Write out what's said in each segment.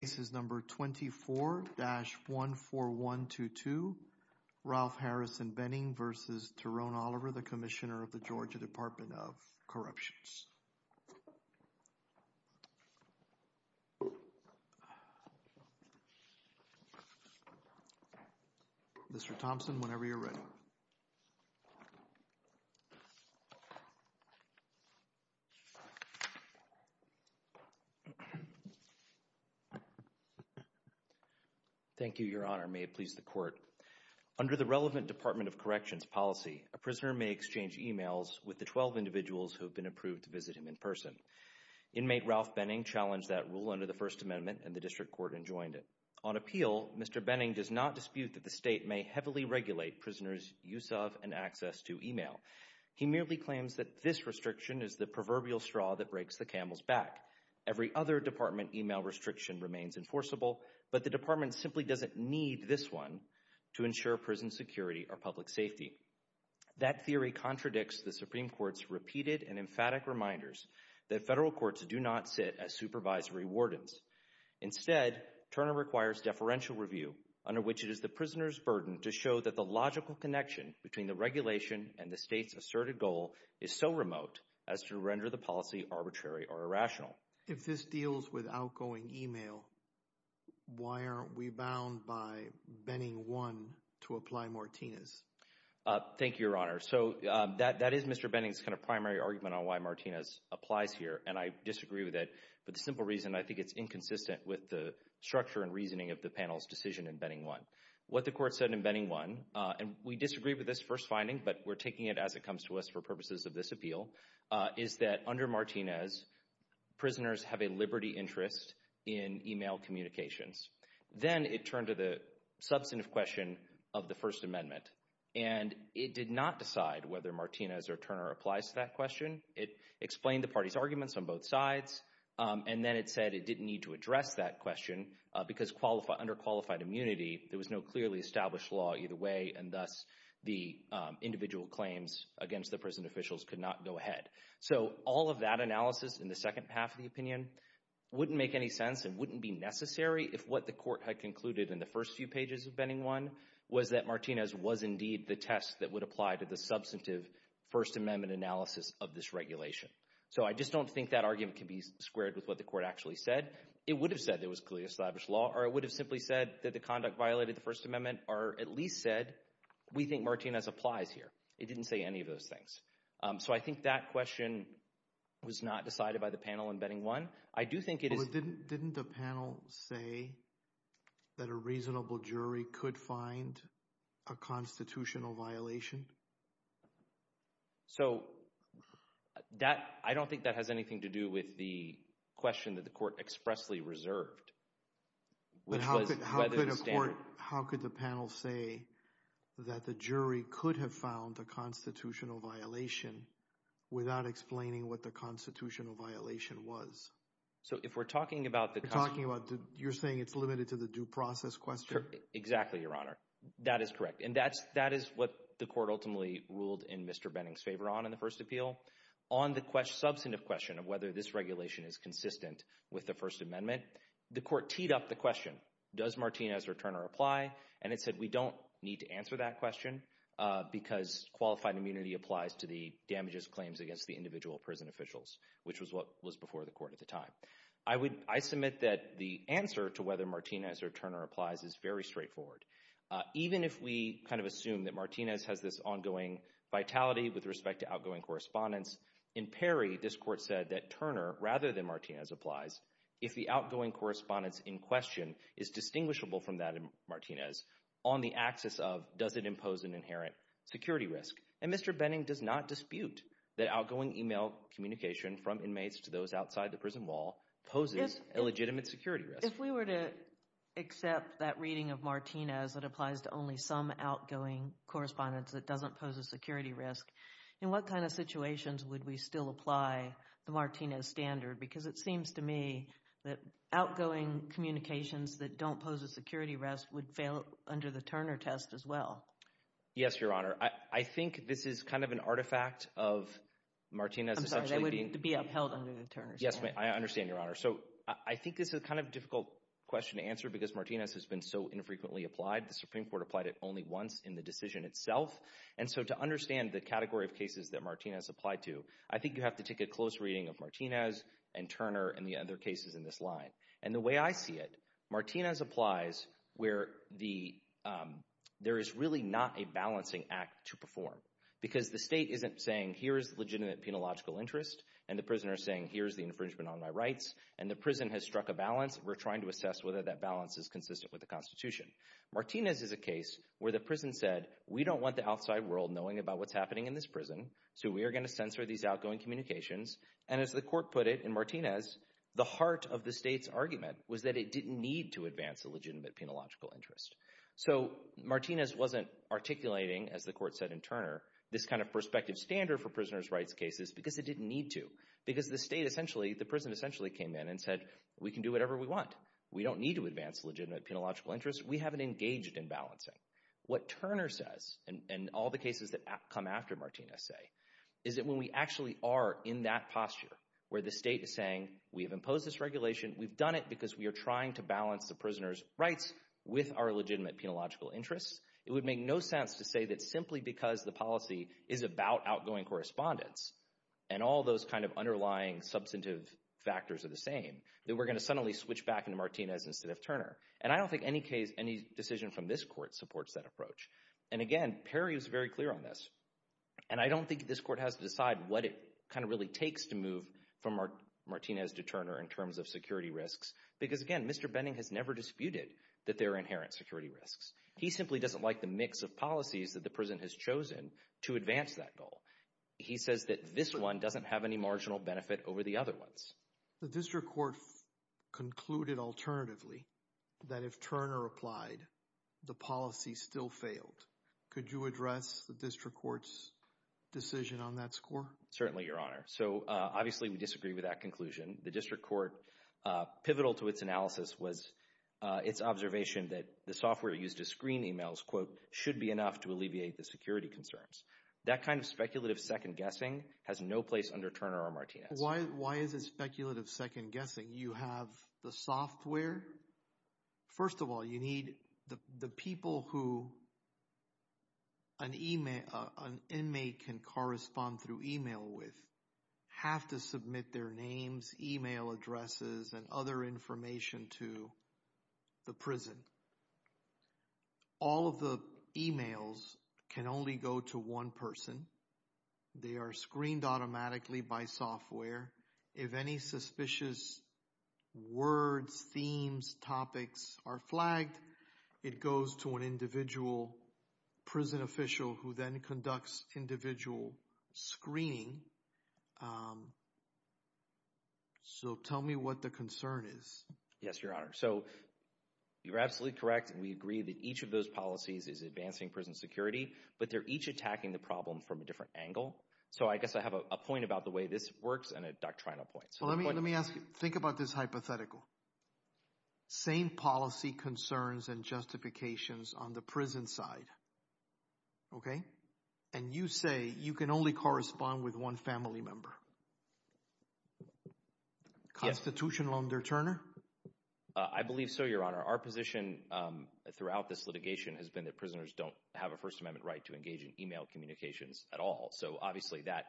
This is number 24-14122, Ralph Harrison Benning v. Tyrone Oliver, the Commissioner of the Georgia Department of Corruptions. Mr. Thompson, whenever you're ready. Thank you, Your Honor. May it please the Court. Under the relevant Department of Corrections policy, a prisoner may exchange emails with the 12 individuals who have been approved to visit him in person. Inmate Ralph Benning challenged that rule under the First Amendment, and the District Court enjoined it. On appeal, Mr. Benning does not dispute that the State may heavily regulate prisoners' use of and access to email. He merely claims that this restriction is the proverbial straw that breaks the camel's back. Every other Department email restriction remains enforceable, but the Department simply doesn't need this one to ensure prison security or public safety. That theory contradicts the Supreme Court's repeated and emphatic reminders that Federal courts do not sit as supervisory wardens. Instead, Turner requires deferential review, under which it is the prisoner's burden to show that the logical connection between the regulation and the State's asserted goal is so remote as to render the policy arbitrary or irrational. If this deals with outgoing email, why aren't we bound by Benning 1 to apply Martinez? Thank you, Your Honor. So that is Mr. Benning's primary argument on why Martinez applies here, and I disagree with it for the simple reason I think it's inconsistent with the structure and reasoning of the panel's decision in Benning 1. What the court said in Benning 1, and we disagree with this first finding, but we're taking it as it comes to us for purposes of this appeal, is that under Martinez, prisoners have a liberty interest in email communications. Then it turned to the substantive question of the First Amendment, and it did not decide whether Martinez or Turner applies to that question. It explained the party's arguments on both sides, and then it said it didn't need to address that question because under qualified immunity, there was no clearly established law either way, and thus the individual claims against the prison officials could not go ahead. So all of that analysis in the second half of the opinion wouldn't make any sense and wouldn't be necessary if what the court had concluded in the first few pages of Benning 1 was that Martinez was indeed the test that would apply to the substantive First Amendment analysis of this regulation. So I just don't think that argument can be squared with what the court actually said. It would have said there was clearly established law, or it would have simply said that the conduct violated the First Amendment, or at least said we think Martinez applies here. It didn't say any of those things. So I think that question was not decided by the panel in Benning 1. Didn't the panel say that a reasonable jury could find a constitutional violation? So I don't think that has anything to do with the question that the court expressly reserved. But how could the panel say that the jury could have found a constitutional violation without explaining what the constitutional violation was? So if we're talking about the… You're saying it's limited to the due process question? Exactly, Your Honor. That is correct, and that is what the court ultimately ruled in Mr. Benning's favor on in the first appeal. On the substantive question of whether this regulation is consistent with the First Amendment, the court teed up the question, does Martinez or Turner apply? And it said we don't need to answer that question because qualified immunity applies to the damages claims against the individual prison officials, which was what was before the court at the time. I submit that the answer to whether Martinez or Turner applies is very straightforward. Even if we kind of assume that Martinez has this ongoing vitality with respect to outgoing correspondence, in Perry this court said that Turner rather than Martinez applies if the outgoing correspondence in question is distinguishable from that of Martinez on the axis of does it impose an inherent security risk. And Mr. Benning does not dispute that outgoing email communication from inmates to those outside the prison wall poses a legitimate security risk. If we were to accept that reading of Martinez that applies to only some outgoing correspondence that doesn't pose a security risk, in what kind of situations would we still apply the Martinez standard? Because it seems to me that outgoing communications that don't pose a security risk would fail under the Turner test as well. Yes, Your Honor. I think this is kind of an artifact of Martinez essentially being— I'm sorry, they would be upheld under the Turner standard. Yes, I understand, Your Honor. So I think this is kind of a difficult question to answer because Martinez has been so infrequently applied. The Supreme Court applied it only once in the decision itself. And so to understand the category of cases that Martinez applied to, I think you have to take a close reading of Martinez and Turner and the other cases in this line. And the way I see it, Martinez applies where there is really not a balancing act to perform because the state isn't saying here is legitimate penological interest and the prisoner is saying here is the infringement on my rights and the prison has struck a balance. We're trying to assess whether that balance is consistent with the Constitution. Martinez is a case where the prison said we don't want the outside world knowing about what's happening in this prison, so we are going to censor these outgoing communications. And as the court put it in Martinez, the heart of the state's argument was that it didn't need to advance a legitimate penological interest. So Martinez wasn't articulating, as the court said in Turner, this kind of perspective standard for prisoners' rights cases because it didn't need to. Because the state essentially, the prison essentially came in and said we can do whatever we want. We don't need to advance legitimate penological interest. We haven't engaged in balancing. What Turner says and all the cases that come after Martinez say is that when we actually are in that posture where the state is saying we have imposed this regulation, we've done it because we are trying to balance the prisoners' rights with our legitimate penological interests, it would make no sense to say that simply because the policy is about outgoing correspondence and all those kind of underlying substantive factors are the same, that we're going to suddenly switch back into Martinez instead of Turner. And I don't think any decision from this court supports that approach. And again, Perry was very clear on this. And I don't think this court has to decide what it kind of really takes to move from Martinez to Turner in terms of security risks because, again, Mr. Benning has never disputed that there are inherent security risks. He simply doesn't like the mix of policies that the prison has chosen to advance that goal. He says that this one doesn't have any marginal benefit over the other ones. The district court concluded alternatively that if Turner applied, the policy still failed. Could you address the district court's decision on that score? Certainly, Your Honor. So obviously we disagree with that conclusion. The district court, pivotal to its analysis was its observation that the software used to screen emails, quote, should be enough to alleviate the security concerns. That kind of speculative second guessing has no place under Turner or Martinez. Why is it speculative second guessing? You have the software. First of all, you need the people who an inmate can correspond through email with have to submit their names, email addresses, and other information to the prison. All of the emails can only go to one person. They are screened automatically by software. If any suspicious words, themes, topics are flagged, it goes to an individual prison official who then conducts individual screening. So tell me what the concern is. Yes, Your Honor. So you're absolutely correct. We agree that each of those policies is advancing prison security, but they're each attacking the problem from a different angle. So I guess I have a point about the way this works and a doctrinal point. Let me ask you, think about this hypothetical. Same policy concerns and justifications on the prison side, okay? And you say you can only correspond with one family member. Constitutional under Turner? I believe so, Your Honor. Our position throughout this litigation has been that prisoners don't have a First Amendment right to engage in email communications at all. So obviously that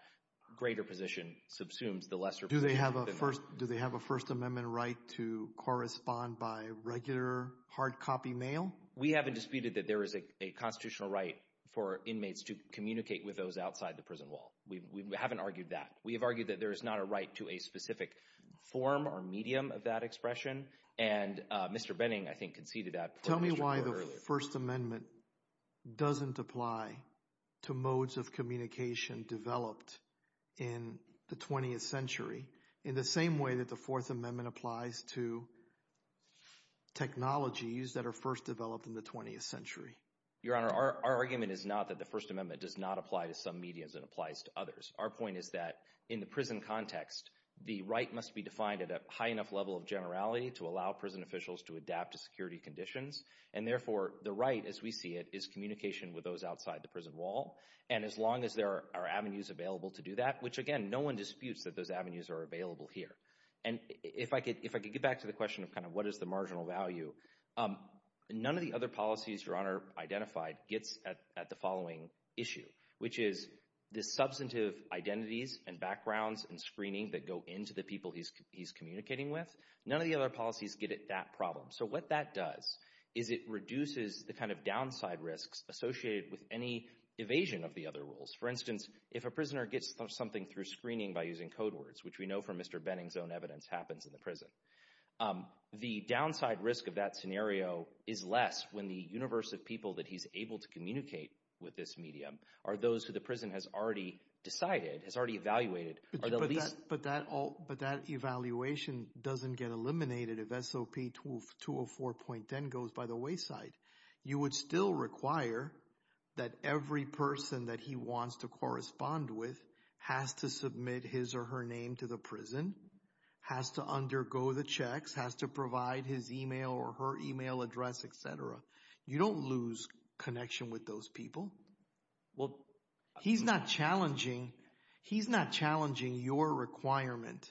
greater position subsumes the lesser position. Do they have a First Amendment right to correspond by regular hard copy mail? We haven't disputed that there is a constitutional right for inmates to communicate with those outside the prison wall. We haven't argued that. We have argued that there is not a right to a specific form or medium of that expression. And Mr. Benning, I think, conceded that. Tell me why the First Amendment doesn't apply to modes of communication developed in the 20th century in the same way that the Fourth Amendment applies to technologies that are first developed in the 20th century. Your Honor, our argument is not that the First Amendment does not apply to some mediums and applies to others. Our point is that in the prison context, the right must be defined at a high enough level of generality to allow prison officials to adapt to security conditions. And therefore, the right, as we see it, is communication with those outside the prison wall. And as long as there are avenues available to do that, which, again, no one disputes that those avenues are available here. And if I could get back to the question of kind of what is the marginal value, none of the other policies Your Honor identified gets at the following issue, which is the substantive identities and backgrounds and screening that go into the people he's communicating with. None of the other policies get at that problem. So what that does is it reduces the kind of downside risks associated with any evasion of the other rules. For instance, if a prisoner gets something through screening by using code words, which we know from Mr. Benning's own evidence happens in the prison, the downside risk of that scenario is less when the universe of people that he's able to communicate with this medium are those who the prison has already decided, has already evaluated. But that evaluation doesn't get eliminated if SOP 204.10 goes by the wayside. You would still require that every person that he wants to correspond with has to submit his or her name to the prison, has to undergo the checks, has to provide his email or her email address, et cetera. You don't lose connection with those people. He's not challenging your requirement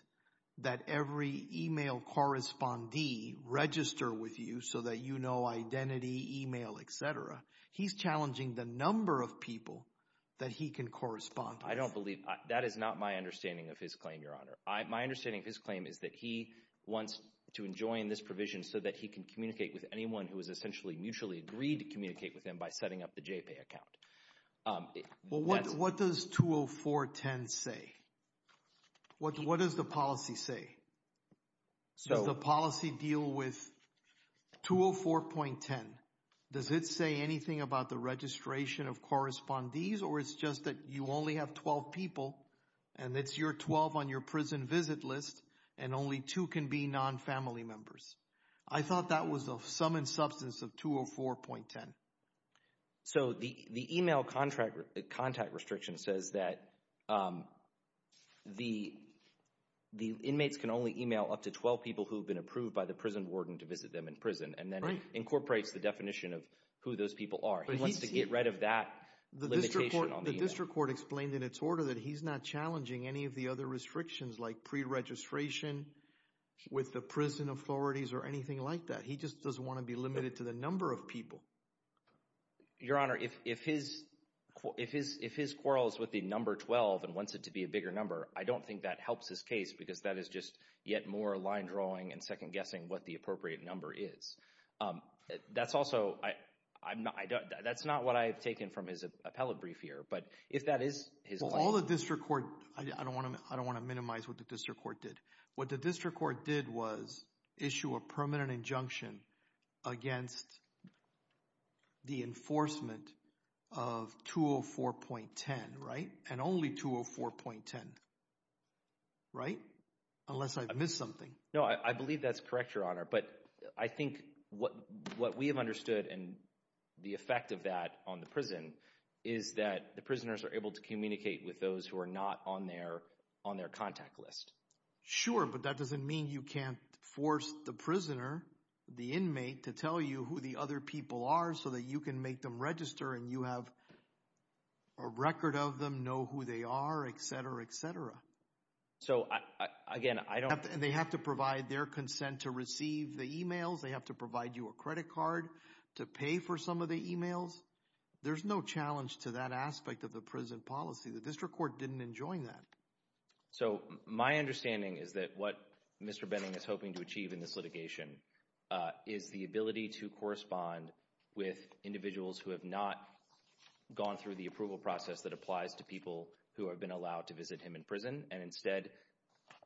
that every email correspondee register with you so that you know identity, email, et cetera. He's challenging the number of people that he can correspond with. I don't believe – that is not my understanding of his claim, Your Honor. My understanding of his claim is that he wants to enjoin this provision so that he can communicate with anyone who has essentially mutually agreed to communicate with him by setting up the JPAY account. Well, what does 204.10 say? What does the policy say? Does the policy deal with – 204.10, does it say anything about the registration of correspondees or it's just that you only have 12 people and it's your 12 on your prison visit list and only two can be non-family members? I thought that was the sum and substance of 204.10. So the email contact restriction says that the inmates can only email up to 12 people who have been approved by the prison warden to visit them in prison and then incorporates the definition of who those people are. He wants to get rid of that limitation on the email. The district court explained in its order that he's not challenging any of the other restrictions like pre-registration with the prison authorities or anything like that. He just doesn't want to be limited to the number of people. Your Honor, if his quarrel is with the number 12 and wants it to be a bigger number, I don't think that helps his case because that is just yet more line drawing and second guessing what the appropriate number is. That's also – that's not what I have taken from his appellate brief here, but if that is his claim – All the district court – I don't want to minimize what the district court did. What the district court did was issue a permanent injunction against the enforcement of 204.10, right? And only 204.10, right? Unless I missed something. No, I believe that's correct, Your Honor, but I think what we have understood and the effect of that on the prison is that the prisoners are able to communicate with those who are not on their contact list. Sure, but that doesn't mean you can't force the prisoner, the inmate, to tell you who the other people are so that you can make them register and you have a record of them, know who they are, et cetera, et cetera. So, again, I don't – They have to provide their consent to receive the emails. They have to provide you a credit card to pay for some of the emails. There's no challenge to that aspect of the prison policy. The district court didn't enjoin that. So my understanding is that what Mr. Benning is hoping to achieve in this litigation is the ability to correspond with individuals who have not gone through the approval process that applies to people who have been allowed to visit him in prison and instead,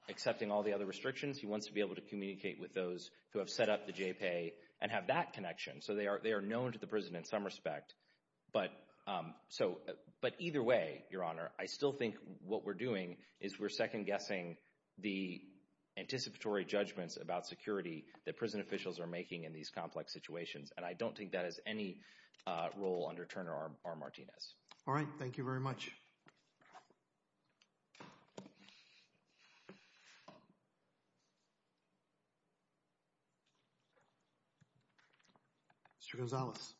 accepting all the other restrictions, he wants to be able to communicate with those who have set up the J-PAY and have that connection. So they are known to the prison in some respect. But either way, Your Honor, I still think what we're doing is we're second-guessing the anticipatory judgments about security that prison officials are making in these complex situations, and I don't think that has any role under Turner R. Martinez. All right. Thank you very much. Mr. Gonzalez.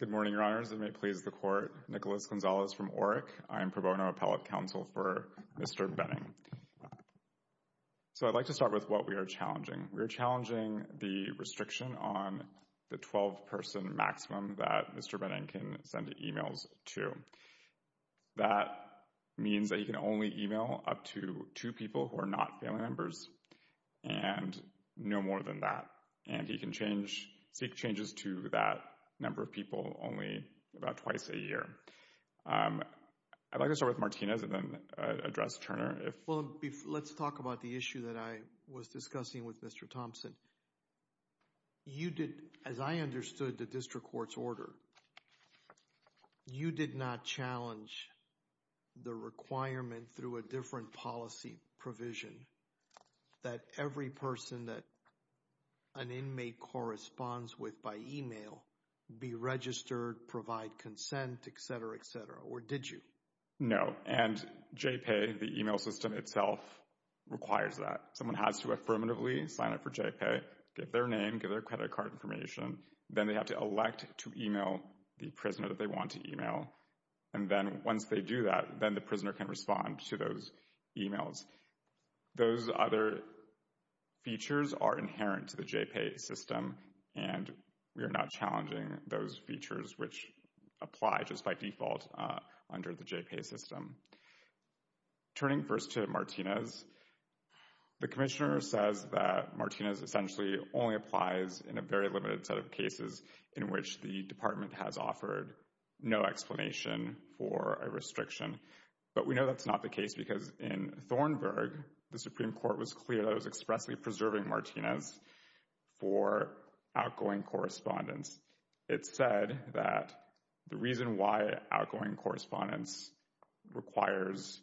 Good morning, Your Honors, and may it please the Court. Nicholas Gonzalez from ORIC. I am pro bono appellate counsel for Mr. Benning. So I'd like to start with what we are challenging. We are challenging the restriction on the 12-person maximum that Mr. Benning can send emails to. That means that he can only email up to two people who are not family members and no more than that. And he can seek changes to that number of people only about twice a year. I'd like to start with Martinez and then address Turner. Well, let's talk about the issue that I was discussing with Mr. Thompson. You did, as I understood the district court's order, you did not challenge the requirement through a different policy provision that every person that an inmate corresponds with by email be registered, provide consent, et cetera, et cetera, or did you? No, and J-PAY, the email system itself, requires that. Someone has to affirmatively sign up for J-PAY, give their name, give their credit card information. Then they have to elect to email the prisoner that they want to email. And then once they do that, then the prisoner can respond to those emails. Those other features are inherent to the J-PAY system, and we are not challenging those features which apply just by default under the J-PAY system. Turning first to Martinez, the commissioner says that Martinez essentially only applies in a very limited set of cases in which the department has offered no explanation for a restriction. But we know that's not the case because in Thornburgh, the Supreme Court was clear that it was expressly preserving Martinez for outgoing correspondence. It said that the reason why outgoing correspondence requires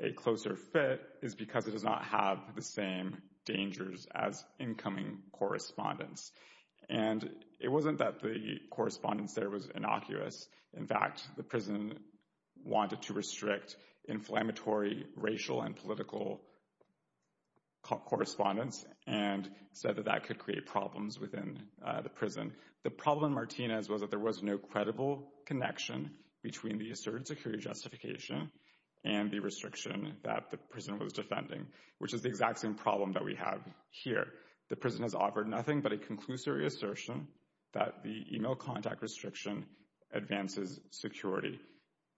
a closer fit is because it does not have the same dangers as incoming correspondence. And it wasn't that the correspondence there was innocuous. In fact, the prison wanted to restrict inflammatory racial and political correspondence and said that that could create problems within the prison. The problem in Martinez was that there was no credible connection between the asserted security justification and the restriction that the prison was defending, which is the exact same problem that we have here. The prison has offered nothing but a conclusory assertion that the email contact restriction advances security.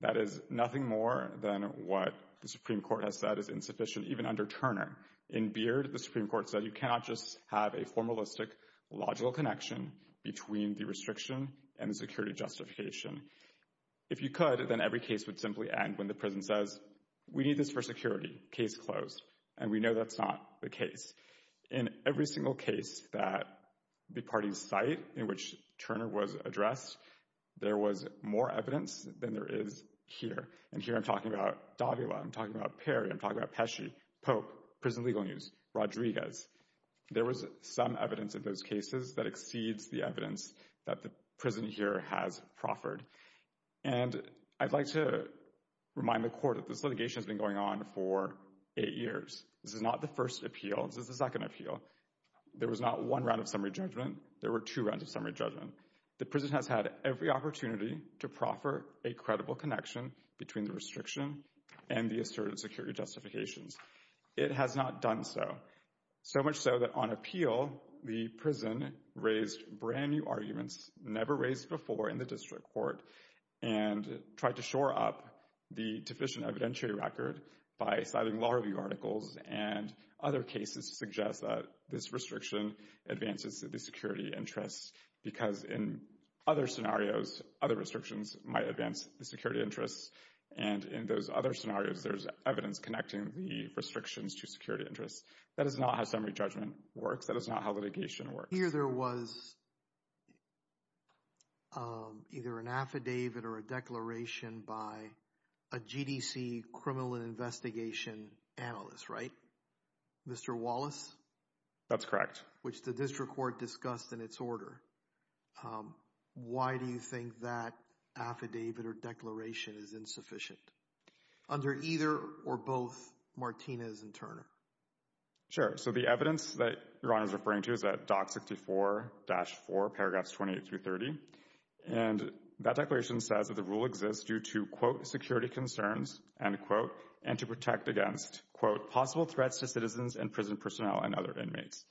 That is nothing more than what the Supreme Court has said is insufficient, even under Turner. In Beard, the Supreme Court said you cannot just have a formalistic, logical connection between the restriction and the security justification. If you could, then every case would simply end when the prison says, we need this for security, case closed. And we know that's not the case. In every single case that the parties cite in which Turner was addressed, there was more evidence than there is here. And here I'm talking about Davila, I'm talking about Perry, I'm talking about Pesci, Pope, prison legal news, Rodriguez. There was some evidence in those cases that exceeds the evidence that the prison here has proffered. And I'd like to remind the Court that this litigation has been going on for eight years. This is not the first appeal. This is the second appeal. There was not one round of summary judgment. There were two rounds of summary judgment. The prison has had every opportunity to proffer a credible connection between the restriction and the asserted security justifications. It has not done so. So much so that on appeal, the prison raised brand new arguments, never raised before in the district court, and tried to shore up the deficient evidentiary record by citing law review articles and other cases to suggest that this restriction advances the security interests because in other scenarios, other restrictions might advance the security interests. And in those other scenarios, there's evidence connecting the restrictions to security interests. That is not how summary judgment works. That is not how litigation works. Here there was either an affidavit or a declaration by a GDC criminal investigation analyst, right? Mr. Wallace? That's correct. Which the district court discussed in its order. Why do you think that affidavit or declaration is insufficient under either or both Martinez and Turner? Sure. So the evidence that Ron is referring to is at DOC 64-4, paragraphs 28 through 30. And that declaration says that the rule exists due to, quote, security concerns, end quote, and to protect against, quote, possible threats to citizens and prison personnel and other inmates.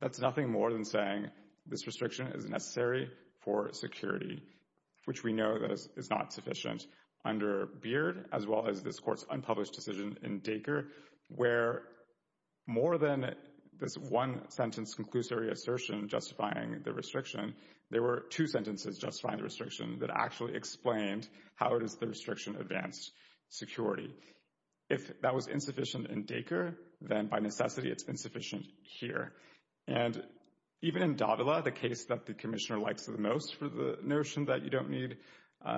That's nothing more than saying this restriction is necessary for security, which we know is not sufficient under Beard, as well as this court's unpublished decision in Dacre, where more than this one sentence conclusory assertion justifying the restriction, there were two sentences justifying the restriction that actually explained how it is the restriction advanced security. If that was insufficient in Dacre, then by necessity it's insufficient here. And even in Davila, the case that the commissioner likes the most for the notion that you don't need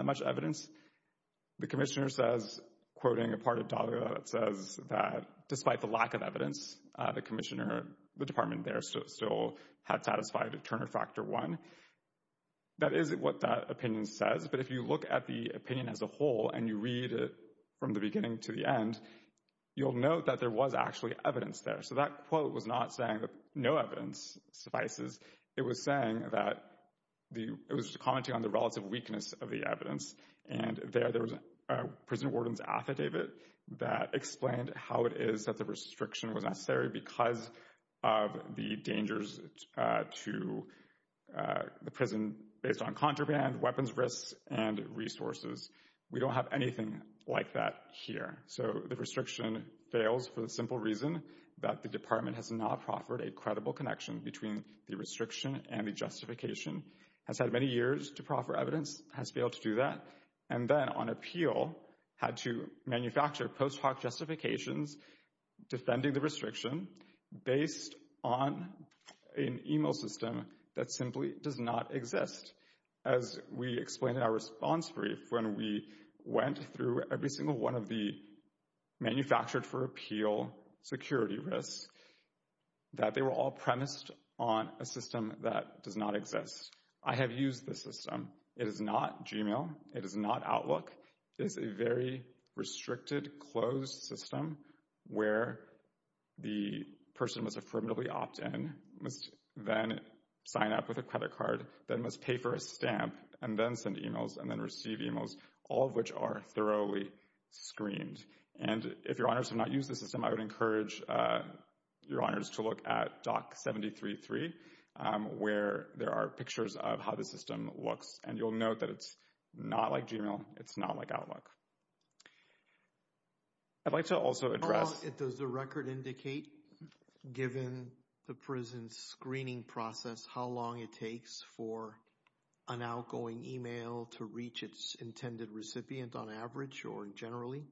much evidence, the commissioner says, quoting a part of Davila that says that despite the lack of evidence, the commissioner, the department there still had satisfied Turner Factor 1. That is what that opinion says, but if you look at the opinion as a whole and you read it from the beginning to the end, you'll note that there was actually evidence there. So that quote was not saying that no evidence suffices. It was saying that it was commenting on the relative weakness of the evidence. And there was a prison warden's affidavit that explained how it is that the restriction was necessary because of the dangers to the prison based on contraband, weapons risks, and resources. We don't have anything like that here. So the restriction fails for the simple reason that the department has not proffered a credible connection between the restriction and the justification. Has had many years to proffer evidence, has failed to do that, and then on appeal, had to manufacture post hoc justifications defending the restriction based on an email system that simply does not exist. As we explained in our response brief when we went through every single one of the manufactured for appeal security risks, that they were all premised on a system that does not exist. I have used this system. It is not Gmail. It is not Outlook. It is a very restricted, closed system where the person must affirmatively opt in, must then sign up with a credit card, then must pay for a stamp, and then send emails, and then receive emails, all of which are thoroughly screened. And if your honors have not used this system, I would encourage your honors to look at DOC 7033, where there are pictures of how the system looks. And you'll note that it's not like Gmail. It's not like Outlook. I'd like to also address… Does the record indicate, given the prison's screening process, how long it takes for an outgoing email to reach its intended recipient on average or generally?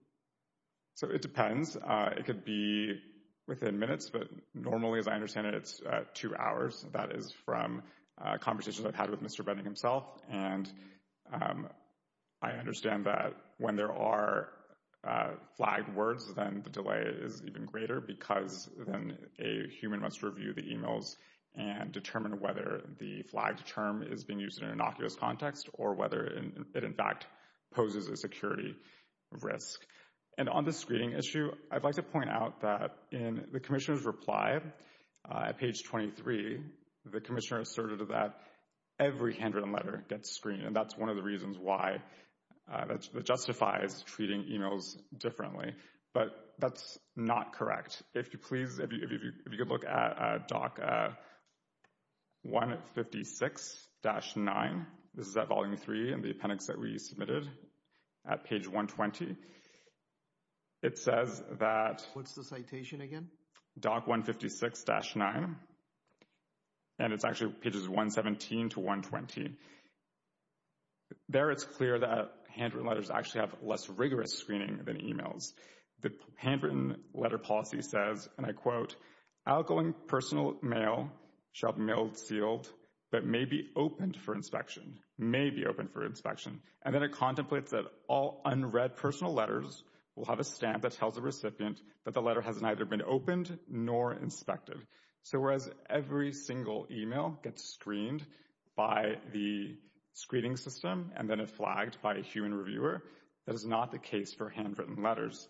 So it depends. It could be within minutes, but normally, as I understand it, it's two hours. That is from conversations I've had with Mr. Benning himself. And I understand that when there are flagged words, then the delay is even greater because then a human must review the emails and determine whether the flagged term is being used in an innocuous context or whether it, in fact, poses a security risk. And on the screening issue, I'd like to point out that in the commissioner's reply at page 23, the commissioner asserted that every handwritten letter gets screened, and that's one of the reasons why that justifies treating emails differently. But that's not correct. If you please, if you could look at DOC 156-9. This is at Volume 3 in the appendix that we submitted at page 120. It says that… What's the citation again? DOC 156-9. And it's actually pages 117 to 120. There it's clear that handwritten letters actually have less rigorous screening than emails. The handwritten letter policy says, and I quote, outgoing personal mail shall be mailed, sealed, but may be opened for inspection, may be opened for inspection. And then it contemplates that all unread personal letters will have a stamp that tells the recipient that the letter has neither been opened nor inspected. So whereas every single email gets screened by the screening system and then flagged by a human reviewer, that is not the case for handwritten letters.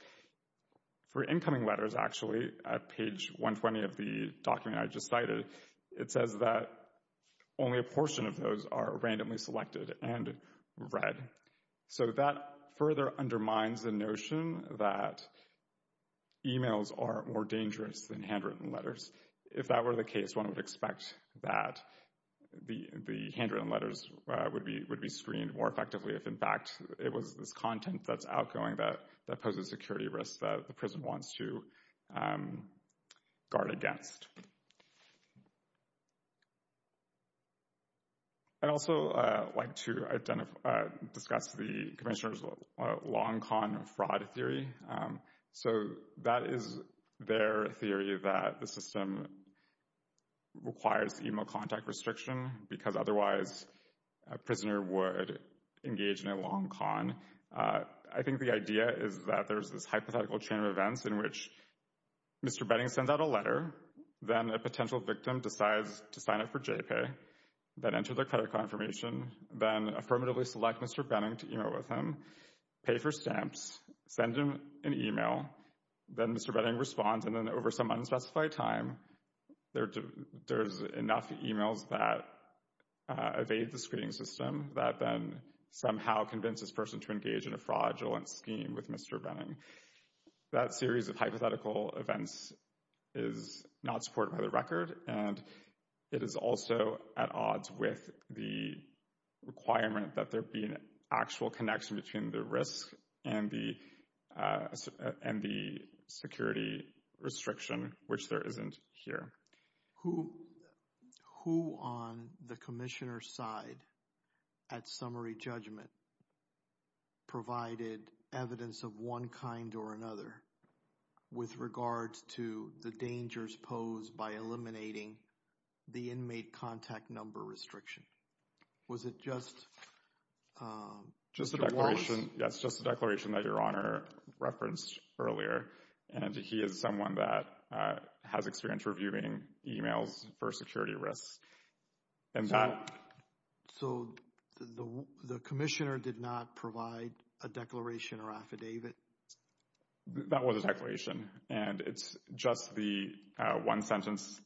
For incoming letters, actually, at page 120 of the document I just cited, it says that only a portion of those are randomly selected and read. Okay. So that further undermines the notion that emails are more dangerous than handwritten letters. If that were the case, one would expect that the handwritten letters would be screened more effectively if, in fact, it was this content that's outgoing that poses security risks that the prison wants to guard against. I'd also like to discuss the Commissioner's long con fraud theory. So that is their theory that the system requires email contact restriction because otherwise a prisoner would engage in a long con. I think the idea is that there's this hypothetical chain of events in which Mr. Benning sends out a letter then a potential victim decides to sign it for J-PAY, then enter their credit confirmation, then affirmatively select Mr. Benning to email with him, pay for stamps, send him an email, then Mr. Benning responds, and then over some unspecified time there's enough emails that evade the screening system that then somehow convince this person to engage in a fraudulent scheme with Mr. Benning. That series of hypothetical events is not supported by the record, and it is also at odds with the requirement that there be an actual connection between the risk and the security restriction, which there isn't here. Who on the Commissioner's side at summary judgment provided evidence of one kind or another with regards to the dangers posed by eliminating the inmate contact number restriction? Was it just Mr. Walsh? Just the declaration, yes, just the declaration that Your Honor referenced earlier, and he is someone that has experience reviewing emails for security risks. So the Commissioner did not provide a declaration or affidavit? That was a declaration, and it's just the one sentence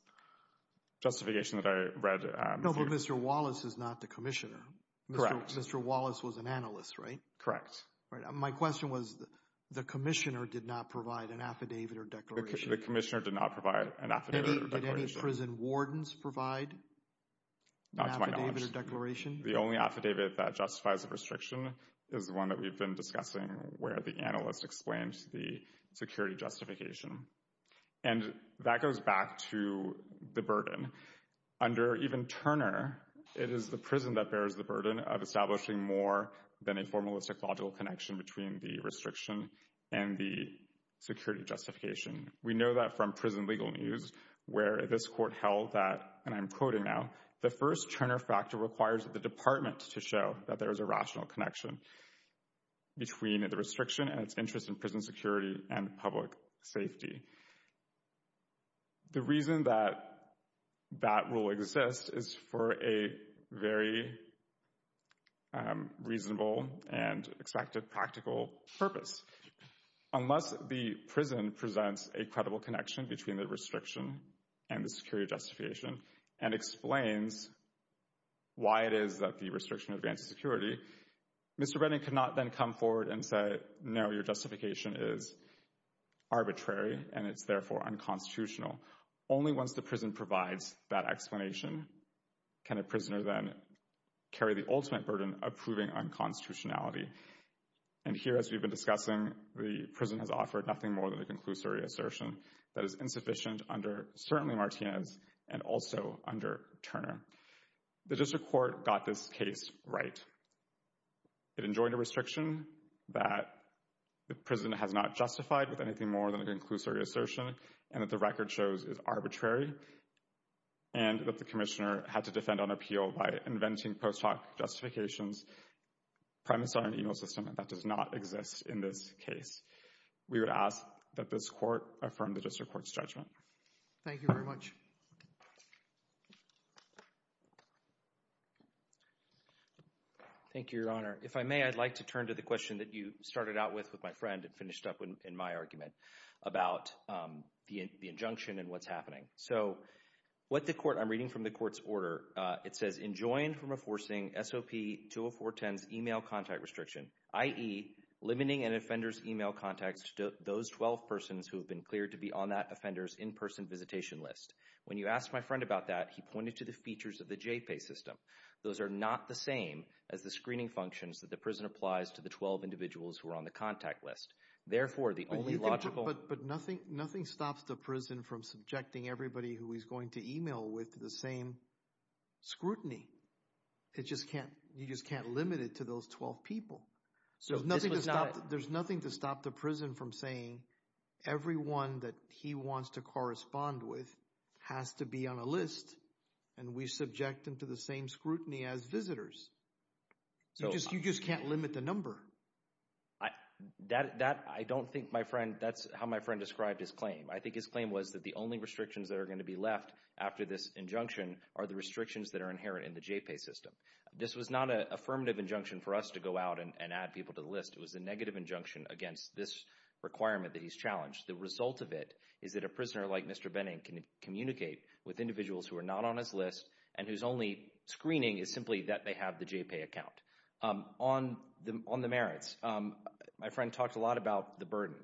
justification that I read. No, but Mr. Wallace is not the Commissioner. Correct. Mr. Wallace was an analyst, right? Correct. My question was, the Commissioner did not provide an affidavit or declaration? The Commissioner did not provide an affidavit or declaration. Did any prison wardens provide an affidavit or declaration? The only affidavit that justifies the restriction is the one that we've been discussing where the analyst explains the security justification. And that goes back to the burden. Under even Turner, it is the prison that bears the burden of establishing more than a formalistic logical connection between the restriction and the security justification. We know that from prison legal news where this court held that, and I'm quoting now, the first Turner factor requires the department to show that there is a rational connection between the restriction and its interest in prison security and public safety. The reason that that rule exists is for a very reasonable and expected practical purpose. Unless the prison presents a credible connection between the restriction and the security justification and explains why it is that the restriction advances security, Mr. Brennan could not then come forward and say, no, your justification is arbitrary and it's therefore unconstitutional. Only once the prison provides that explanation can a prisoner then carry the ultimate burden of proving unconstitutionality. And here, as we've been discussing, the prison has offered nothing more than a conclusory assertion that is insufficient under certainly Martinez and also under Turner. The district court got this case right. It enjoined a restriction that the prison has not justified with anything more than a conclusory assertion and that the record shows is arbitrary and that the commissioner had to defend on appeal by inventing post hoc justifications premised on an email system that does not exist in this case. We would ask that this court affirm the district court's judgment. Thank you very much. Thank you, Your Honor. If I may, I'd like to turn to the question that you started out with with my friend and finished up in my argument about the injunction and what's happening. So what the court – I'm reading from the court's order. It says enjoined from enforcing SOP 20410's email contact restriction, i.e., limiting an offender's email contacts to those 12 persons who have been cleared to be on that offender's in-person visitation list. When you asked my friend about that, he pointed to the features of the J-PAY system. Those are not the same as the screening functions that the prison applies to the 12 individuals who are on the contact list. Therefore, the only logical – But nothing stops the prison from subjecting everybody who he's going to email with the same scrutiny. You just can't limit it to those 12 people. There's nothing to stop the prison from saying everyone that he wants to correspond with has to be on a list and we subject them to the same scrutiny as visitors. You just can't limit the number. That – I don't think my friend – that's how my friend described his claim. I think his claim was that the only restrictions that are going to be left after this injunction are the restrictions that are inherent in the J-PAY system. This was not an affirmative injunction for us to go out and add people to the list. It was a negative injunction against this requirement that he's challenged. The result of it is that a prisoner like Mr. Benning can communicate with individuals who are not on his list and whose only screening is simply that they have the J-PAY account. On the merits, my friend talked a lot about the burden.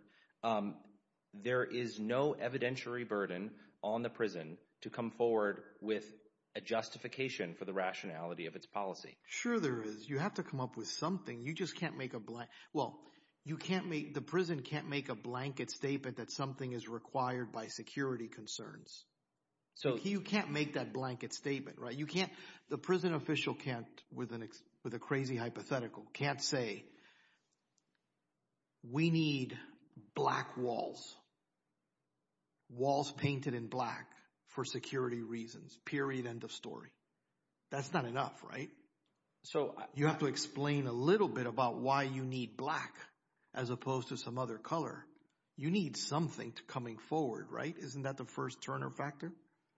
There is no evidentiary burden on the prison to come forward with a justification for the rationality of its policy. Sure there is. You have to come up with something. You just can't make a – well, you can't make – the prison can't make a blanket statement that something is required by security concerns. You can't make that blanket statement. You can't – the prison official can't, with a crazy hypothetical, can't say we need black walls, walls painted in black for security reasons, period, end of story. That's not enough, right? So you have to explain a little bit about why you need black as opposed to some other color. You need something coming forward, right? Isn't that the first-turner factor?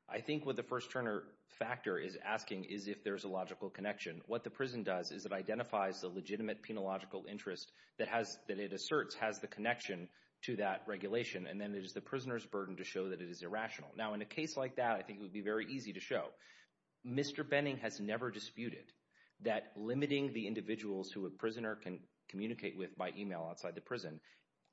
I think what the first-turner factor is asking is if there's a logical connection. What the prison does is it identifies the legitimate penological interest that it asserts has the connection to that regulation, and then it is the prisoner's burden to show that it is irrational. Now, in a case like that, I think it would be very easy to show. Mr. Benning has never disputed that limiting the individuals who a prisoner can communicate with by email outside the prison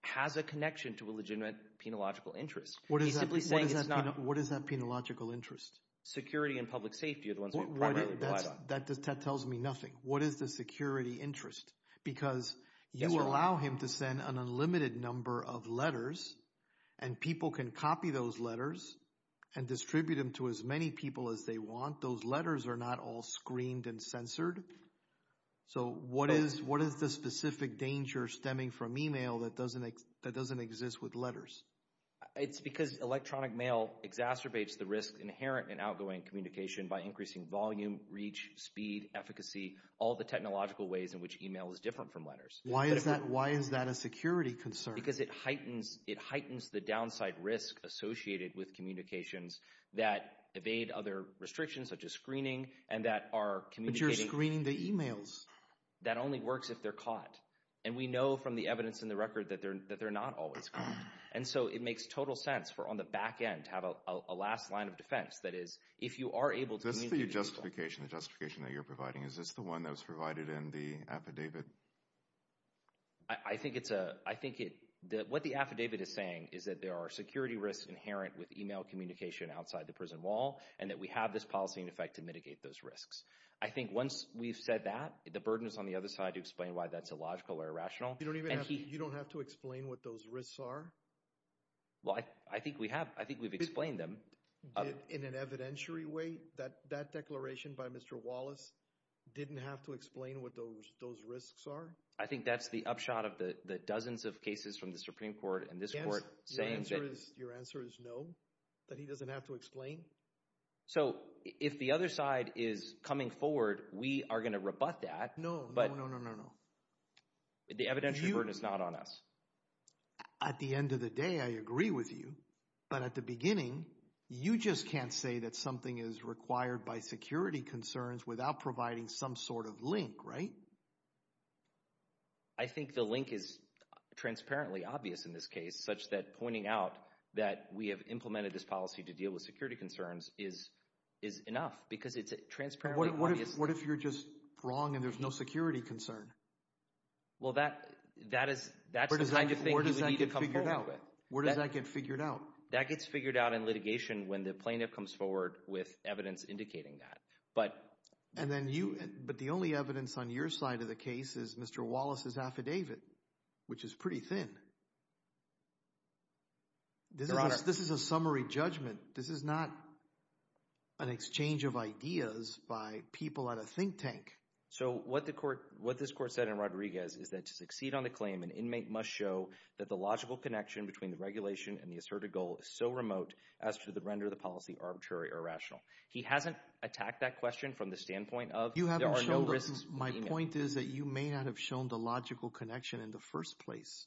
has a connection to a legitimate penological interest. He's simply saying it's not – What is that penological interest? Security and public safety are the ones we primarily rely on. That tells me nothing. What is the security interest? Because you allow him to send an unlimited number of letters, and people can copy those letters and distribute them to as many people as they want. Those letters are not all screened and censored. So what is the specific danger stemming from email that doesn't exist with letters? It's because electronic mail exacerbates the risk inherent in outgoing communication by increasing volume, reach, speed, efficacy, all the technological ways in which email is different from letters. Why is that a security concern? Because it heightens the downside risk associated with communications that evade other restrictions such as screening and that are communicating – But you're screening the emails. That only works if they're caught. And we know from the evidence in the record that they're not always caught. And so it makes total sense for on the back end to have a last line of defense. That is, if you are able to communicate – Is this the justification that you're providing? Is this the one that was provided in the affidavit? I think it's a – What the affidavit is saying is that there are security risks inherent with email communication outside the prison wall, and that we have this policy in effect to mitigate those risks. I think once we've said that, the burden is on the other side to explain why that's illogical or irrational. You don't have to explain what those risks are? Well, I think we have. I think we've explained them. In an evidentiary way, that declaration by Mr. Wallace didn't have to explain what those risks are? I think that's the upshot of the dozens of cases from the Supreme Court and this court saying that – Yes, your answer is no, that he doesn't have to explain? So if the other side is coming forward, we are going to rebut that. No, no, no, no, no, no. The evidentiary burden is not on us. At the end of the day, I agree with you. But at the beginning, you just can't say that something is required by security concerns without providing some sort of link, right? I think the link is transparently obvious in this case, such that pointing out that we have implemented this policy to deal with security concerns is enough because it's transparently obvious. What if you're just wrong and there's no security concern? Well, that's the kind of thing he would need to come forward with. Where does that get figured out? That gets figured out in litigation when the plaintiff comes forward with evidence indicating that. But the only evidence on your side of the case is Mr. Wallace's affidavit, which is pretty thin. Your Honor. This is a summary judgment. This is not an exchange of ideas by people at a think tank. So what this court said in Rodriguez is that to succeed on the claim, an inmate must show that the logical connection between the regulation and the asserted goal is so remote as to render the policy arbitrary or irrational. He hasn't attacked that question from the standpoint of there are no risks. My point is that you may not have shown the logical connection in the first place.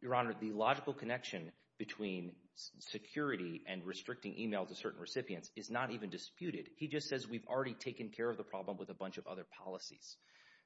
Your Honor, the logical connection between security and restricting email to certain recipients is not even disputed. He just says we've already taken care of the problem with a bunch of other policies.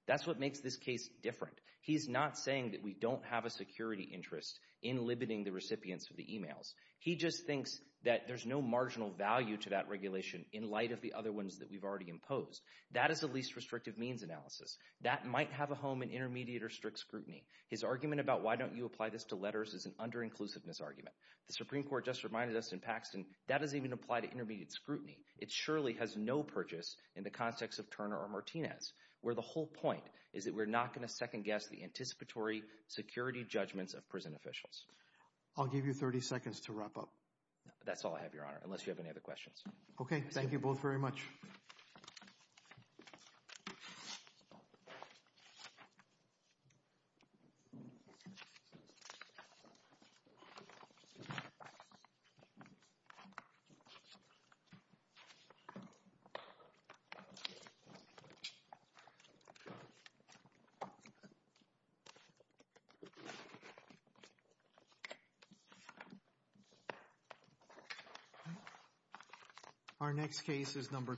That's what makes this case different. He's not saying that we don't have a security interest in limiting the recipients of the emails. He just thinks that there's no marginal value to that regulation in light of the other ones that we've already imposed. That is the least restrictive means analysis. That might have a home in intermediate or strict scrutiny. His argument about why don't you apply this to letters is an under-inclusiveness argument. The Supreme Court just reminded us in Paxton that doesn't even apply to intermediate scrutiny. It surely has no purchase in the context of Turner or Martinez, where the whole point is that we're not going to second-guess the anticipatory security judgments of prison officials. I'll give you 30 seconds to wrap up. That's all I have, Your Honor, unless you have any other questions. Okay. Thank you both very much. Our next case is number